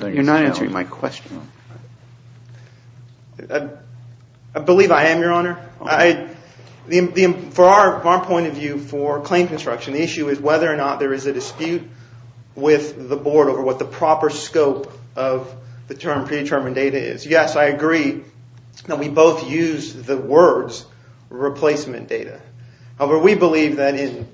632 Phison Electronics v. Silicon Motion Technology 632 Phison Electronics v. Silicon Motion Technology 632 Phison Electronics v. Silicon Motion Technology 632 Phison Electronics v. Silicon Motion Technology 632 Phison Electronics v. Silicon Motion Technology and the issue is whether or not there is a dispute with the board over what the proper scope of the term predetermined data is. Yes, I agree that we both use the words replacement data. However, we believe that in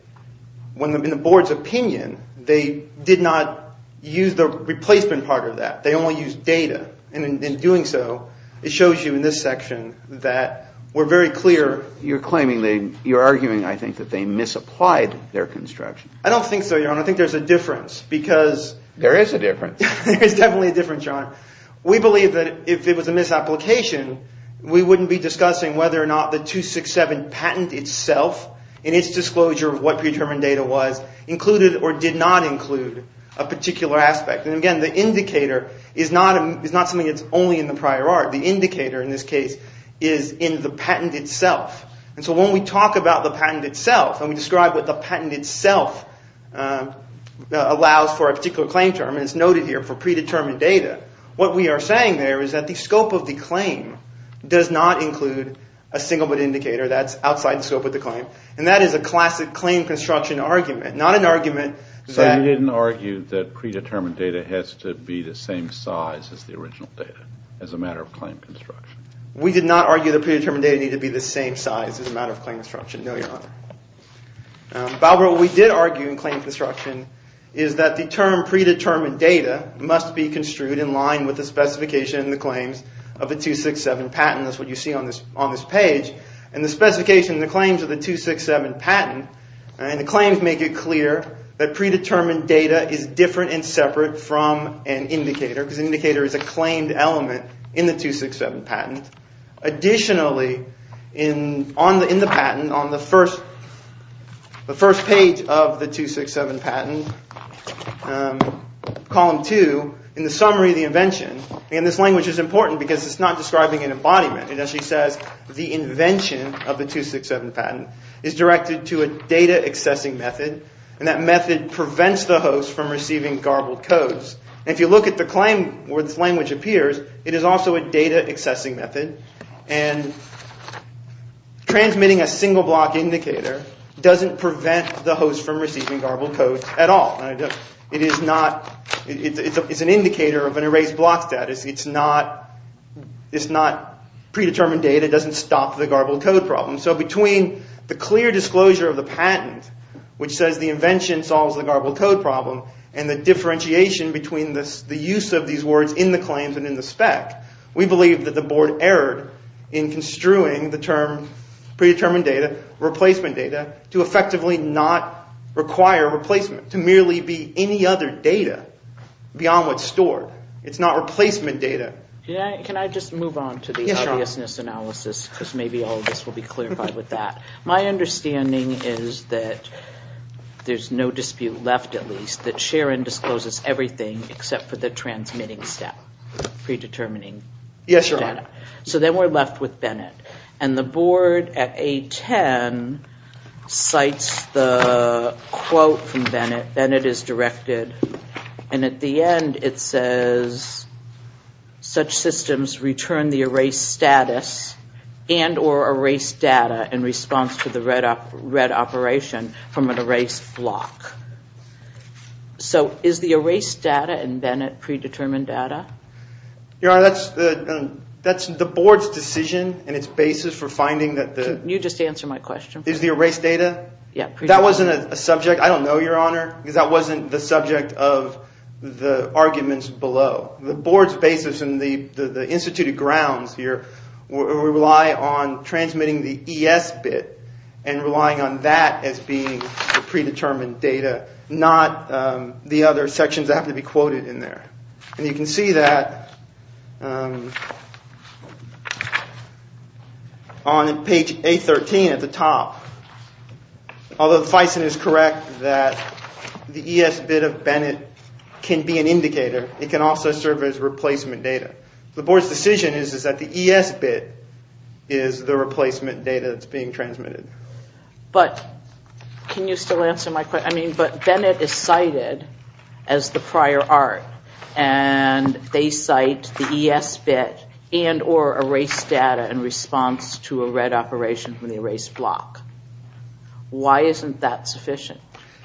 the board's opinion, they did not use the replacement part of that. They only used data, and in doing so, it shows you in this section that we're very clear. You're arguing, I think, that they misapplied their construction. I don't think so, Your Honor. I think there's a difference. There is a difference. There is definitely a difference, Your Honor. We believe that if it was a misapplication, we wouldn't be discussing whether or not the 267 patent itself and its disclosure of what predetermined data was included or did not include a particular aspect. And again, the indicator is not something that's only in the prior art. The indicator, in this case, is in the patent itself. And so when we talk about the patent itself and we describe what the patent itself allows for a particular claim term, and it's noted here for predetermined data, what we are saying there is that the scope of the claim does not include a single indicator that's outside the scope of the claim, and that is a classic claim construction argument, not an argument that— We did not argue that predetermined data needed to be the same size as a matter of claim construction. No, Your Honor. Barbara, what we did argue in claim construction is that the term predetermined data must be construed in line with the specification and the claims of the 267 patent. That's what you see on this page. And the specification and the claims of the 267 patent, and the claims make it clear that predetermined data is different and separate from an indicator because an indicator is a claimed element in the 267 patent. Additionally, in the patent, on the first page of the 267 patent, column two, in the summary of the invention— and this language is important because it's not describing an embodiment. It actually says the invention of the 267 patent is directed to a data-accessing method, and that method prevents the host from receiving garbled codes. And if you look at the claim where this language appears, it is also a data-accessing method, and transmitting a single-block indicator doesn't prevent the host from receiving garbled codes at all. It is not—it's an indicator of an erased block status. It's not—predetermined data doesn't stop the garbled code problem. So between the clear disclosure of the patent, which says the invention solves the garbled code problem, and the differentiation between the use of these words in the claims and in the spec, we believe that the board erred in construing the term predetermined data, replacement data, to effectively not require replacement, to merely be any other data beyond what's stored. It's not replacement data. Can I just move on to the obviousness analysis because maybe all of this will be clarified with that? My understanding is that there's no dispute left at least, that Sharon discloses everything except for the transmitting step, predetermining data. So then we're left with Bennett. And the board at A10 cites the quote from Bennett. Bennett is directed, and at the end it says, such systems return the erased status and or erased data in response to the red operation from an erased block. So is the erased data in Bennett predetermined data? Your Honor, that's the board's decision and its basis for finding that the— Can you just answer my question? Is the erased data? Yeah, predetermined. That wasn't a subject— I don't know, Your Honor, because that wasn't the subject of the arguments below. The board's basis and the instituted grounds here rely on transmitting the ES bit and relying on that as being the predetermined data, not the other sections that have to be quoted in there. And you can see that on page A13 at the top. Although Fison is correct that the ES bit of Bennett can be an indicator, it can also serve as replacement data. The board's decision is that the ES bit is the replacement data that's being transmitted. But can you still answer my question? I mean, but Bennett is cited as the prior art, and they cite the ES bit and or erased data in response to a red operation from the erased block. Why isn't that sufficient?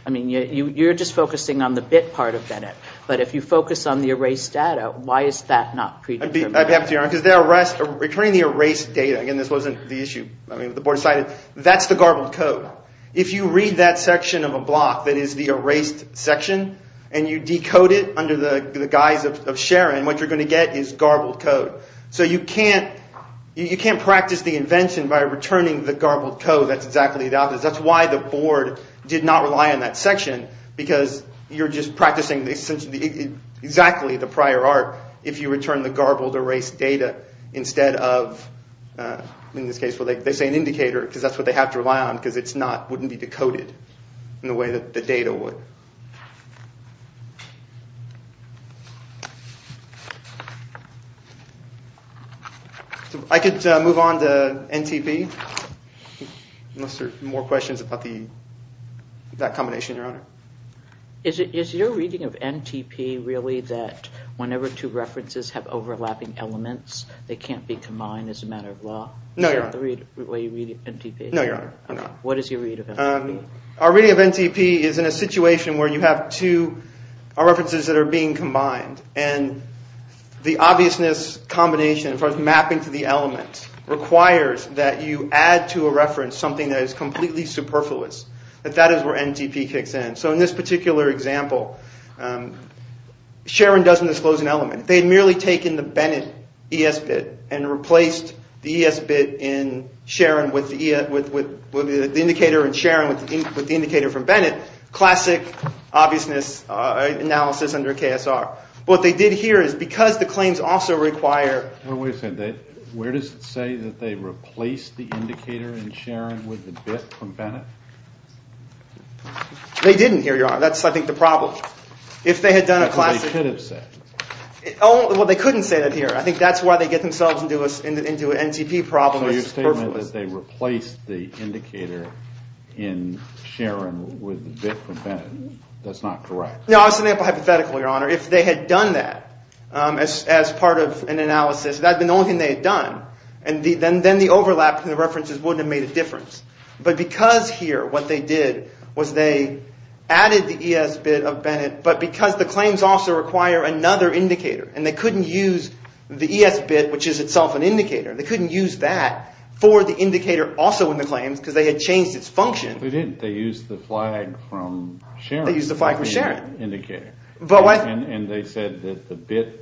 I mean, you're just focusing on the bit part of Bennett, but if you focus on the erased data, why is that not predetermined? I'd be happy to, Your Honor, because the erased—returning the erased data, again, this wasn't the issue. I mean, the board decided that's the garbled code. If you read that section of a block that is the erased section and you decode it under the guise of sharing, what you're going to get is garbled code. So you can't practice the invention by returning the garbled code that's exactly adopted. That's why the board did not rely on that section, because you're just practicing exactly the prior art if you return the garbled erased data instead of, in this case, they say an indicator because that's what they have to rely on because it wouldn't be decoded in the way that the data would. I could move on to NTP unless there are more questions about that combination, Your Honor. Is your reading of NTP really that whenever two references have overlapping elements, they can't be combined as a matter of law? No, Your Honor. Is that the way you read NTP? No, Your Honor. I'm not. What is your reading of NTP? Our reading of NTP is in a situation where you have two references that are being combined, and the obviousness combination as far as mapping to the element requires that you add to a reference something that is completely superfluous. That is where NTP kicks in. So in this particular example, Sharon doesn't disclose an element. They had merely taken the Bennett ES bit and replaced the indicator in Sharon with the indicator from Bennett. Classic obviousness analysis under KSR. What they did here is because the claims also require— Wait a second. Where does it say that they replaced the indicator in Sharon with the bit from Bennett? They didn't here, Your Honor. That's, I think, the problem. That's what they could have said. Well, they couldn't say that here. I think that's why they get themselves into an NTP problem. So your statement is they replaced the indicator in Sharon with the bit from Bennett. That's not correct. No, I was saying it hypothetically, Your Honor. If they had done that as part of an analysis, that would have been the only thing they had done, and then the overlap in the references wouldn't have made a difference. But because here what they did was they added the ES bit of Bennett, but because the claims also require another indicator, and they couldn't use the ES bit, which is itself an indicator. They couldn't use that for the indicator also in the claims because they had changed its function. No, they didn't. They used the flag from Sharon. They used the flag from Sharon. And they said that the bit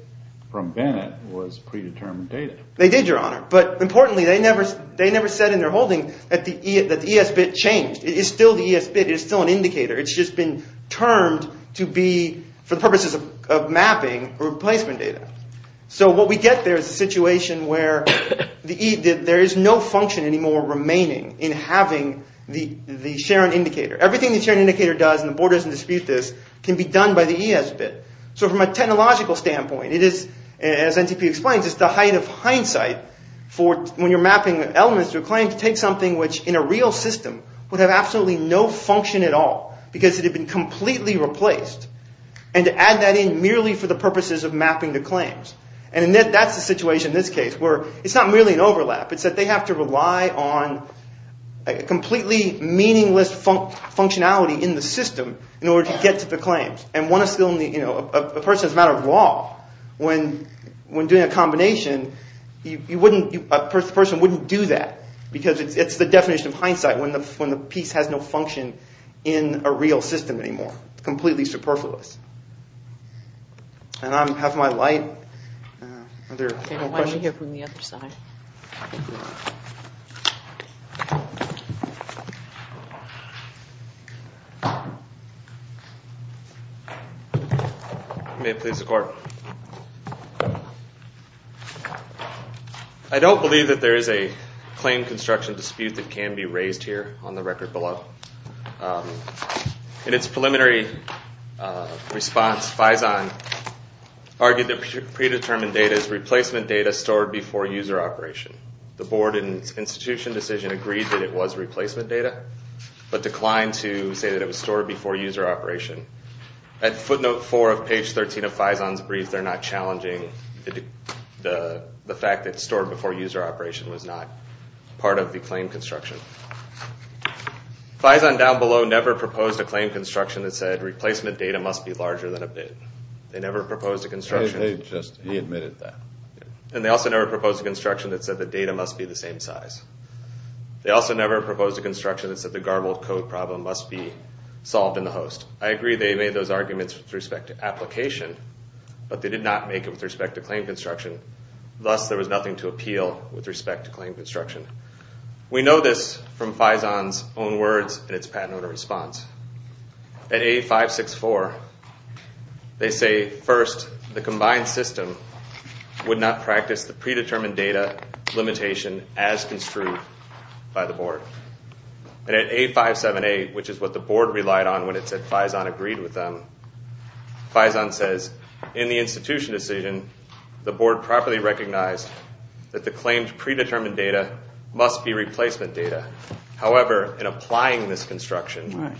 from Bennett was predetermined data. They did, Your Honor. But importantly, they never said in their holding that the ES bit changed. It is still the ES bit. It is still an indicator. It's just been termed to be for the purposes of mapping replacement data. So what we get there is a situation where there is no function anymore remaining in having the Sharon indicator. Everything the Sharon indicator does, and the board doesn't dispute this, can be done by the ES bit. So from a technological standpoint, it is, as NTP explains, it's the height of hindsight when you're mapping elements to a claim to take something which in a real system would have absolutely no function at all because it had been completely replaced and to add that in merely for the purposes of mapping the claims. And that's the situation in this case where it's not merely an overlap. It's that they have to rely on a completely meaningless functionality in the system in order to get to the claims. And a person is a matter of law. When doing a combination, a person wouldn't do that because it's the definition of hindsight when the piece has no function in a real system anymore. It's completely superfluous. And I'm half of my light. Are there questions? May it please the Court. I don't believe that there is a claim construction dispute that can be raised here on the record below. In its preliminary response, Phison argued that predetermined data is replacement data stored before user operation. The board in its institution decision agreed that it was replacement data but declined to say that it was stored before user operation. At footnote 4 of page 13 of Phison's brief, they're not challenging the fact that stored before user operation was not part of the claim construction. Phison down below never proposed a claim construction that said replacement data must be larger than a bit. They never proposed a construction that said the data must be the same size. They also never proposed a construction that said the garbled code problem must be solved in the host. I agree they made those arguments with respect to application, but they did not make it with respect to claim construction. Thus, there was nothing to appeal with respect to claim construction. We know this from Phison's own words in its patent owner response. At A564, they say, first, the combined system would not practice the predetermined data limitation as construed by the board. And at A578, which is what the board relied on when it said Phison agreed with them, Phison says, in the institution decision, the board properly recognized that the claimed predetermined data must be replacement data. However, in applying this construction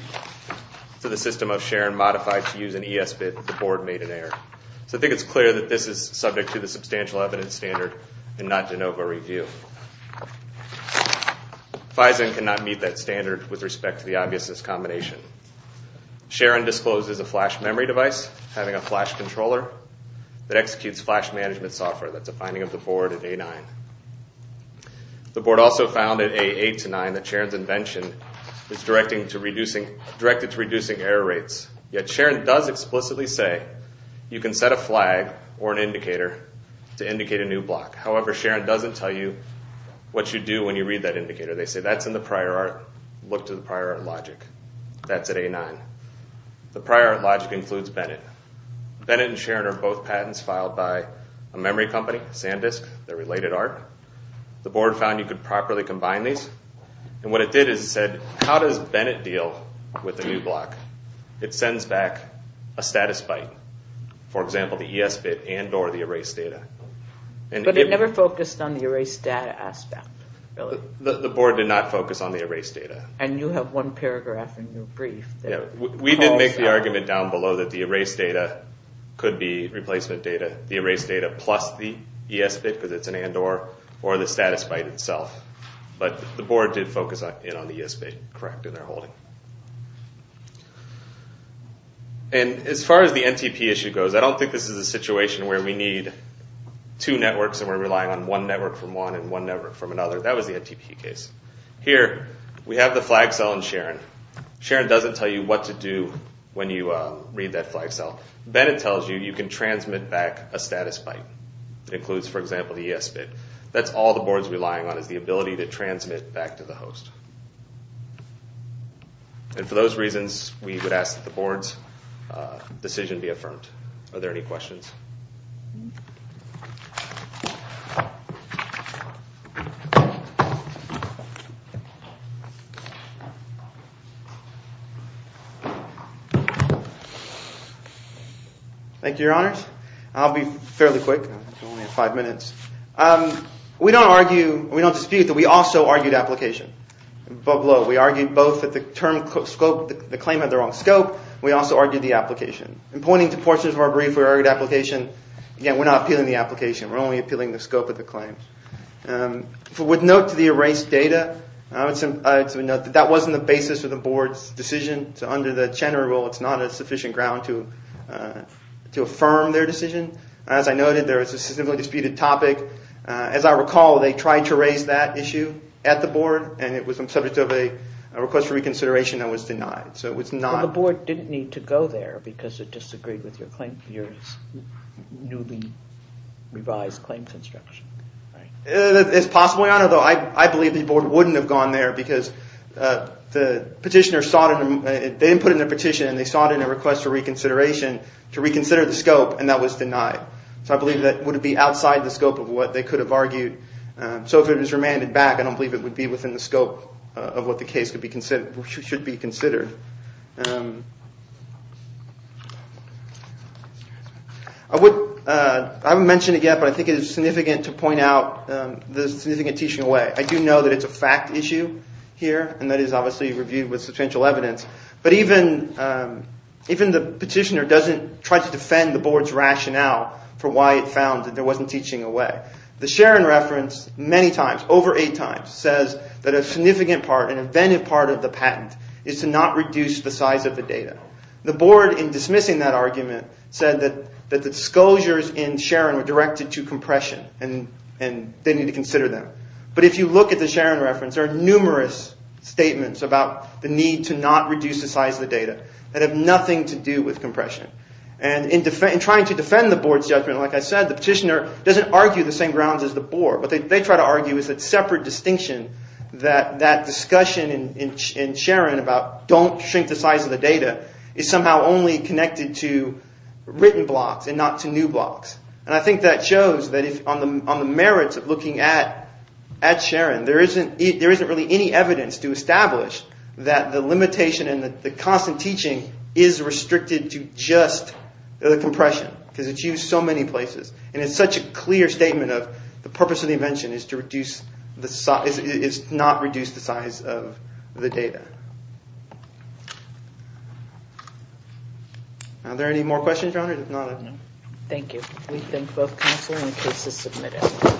to the system of Sharon modified to use an ES bit, the board made an error. So I think it's clear that this is subject to the substantial evidence standard and not de novo review. Phison cannot meet that standard with respect to the obviousness combination. Sharon discloses a flash memory device having a flash controller that executes flash management software. That's a finding of the board at A9. The board also found at A8 to 9 that Sharon's invention is directed to reducing error rates. Yet Sharon does explicitly say you can set a flag or an indicator to indicate a new block. However, Sharon doesn't tell you what you do when you read that indicator. They say that's in the prior art. Look to the prior art logic. That's at A9. The prior art logic includes Bennett. Bennett and Sharon are both patents filed by a memory company, Sandisk, their related art. The board found you could properly combine these. And what it did is it said, how does Bennett deal with a new block? It sends back a status byte, for example, the ES bit and or the erased data. But it never focused on the erased data aspect, really. The board did not focus on the erased data. And you have one paragraph in your brief. We did make the argument down below that the erased data could be replacement data. The erased data plus the ES bit, because it's an and or, or the status byte itself. But the board did focus in on the ES bit, correct, in their holding. As far as the NTP issue goes, I don't think this is a situation where we need two networks and we're relying on one network from one and one network from another. That was the NTP case. Here, we have the flag cell in Sharon. Sharon doesn't tell you what to do when you read that flag cell. Bennett tells you you can transmit back a status byte. It includes, for example, the ES bit. That's all the board's relying on is the ability to transmit back to the host. And for those reasons, we would ask that the board's decision be affirmed. Are there any questions? Thank you, Your Honors. I'll be fairly quick. I only have five minutes. We don't argue, we don't dispute that we also argued application. Above and below. We argued both that the term scope, the claim had the wrong scope. We also argued the application. In pointing to portions of our brief, we argued application. Again, we're not appealing the application. We're only appealing the scope of the claim. With note to the erased data, that wasn't the basis of the board's decision. Under the general rule, it's not a sufficient ground to affirm their decision. As I noted, there was a systemically disputed topic. As I recall, they tried to raise that issue at the board. And it was subject to a request for reconsideration that was denied. So it was not... The board didn't need to go there because it disagreed with your newly revised claims instruction. It's possible, Your Honor, though I believe the board wouldn't have gone there because the petitioner sought... They inputted their petition and they sought in a request for reconsideration to reconsider the scope and that was denied. So I believe that would be outside the scope of what they could have argued. So if it was remanded back, I don't believe it would be within the scope of what the case should be considered. I haven't mentioned it yet, but I think it is significant to point out the significant teaching away. I do know that it's a fact issue here. And that is obviously reviewed with substantial evidence. But even the petitioner doesn't try to defend the board's rationale for why it found that there wasn't teaching away. The Sharon reference many times, over eight times, says that a significant part, an inventive part of the patent is to not reduce the size of the data. The board, in dismissing that argument, said that the disclosures in Sharon were directed to compression and they need to consider them. But if you look at the Sharon reference, there are numerous statements about the need to not reduce the size of the data that have nothing to do with compression. And in trying to defend the board's judgment, like I said, the petitioner doesn't argue the same grounds as the board. What they try to argue is that separate distinction, that discussion in Sharon about don't shrink the size of the data is somehow only connected to written blocks and not to new blocks. And I think that shows that on the merits of looking at Sharon, there isn't really any evidence to establish that the limitation and the constant teaching is restricted to just the compression because it's used so many places. And it's such a clear statement of the purpose of the invention is to not reduce the size of the data. Are there any more questions, Your Honor? Thank you. We thank both counsel and the cases submitted.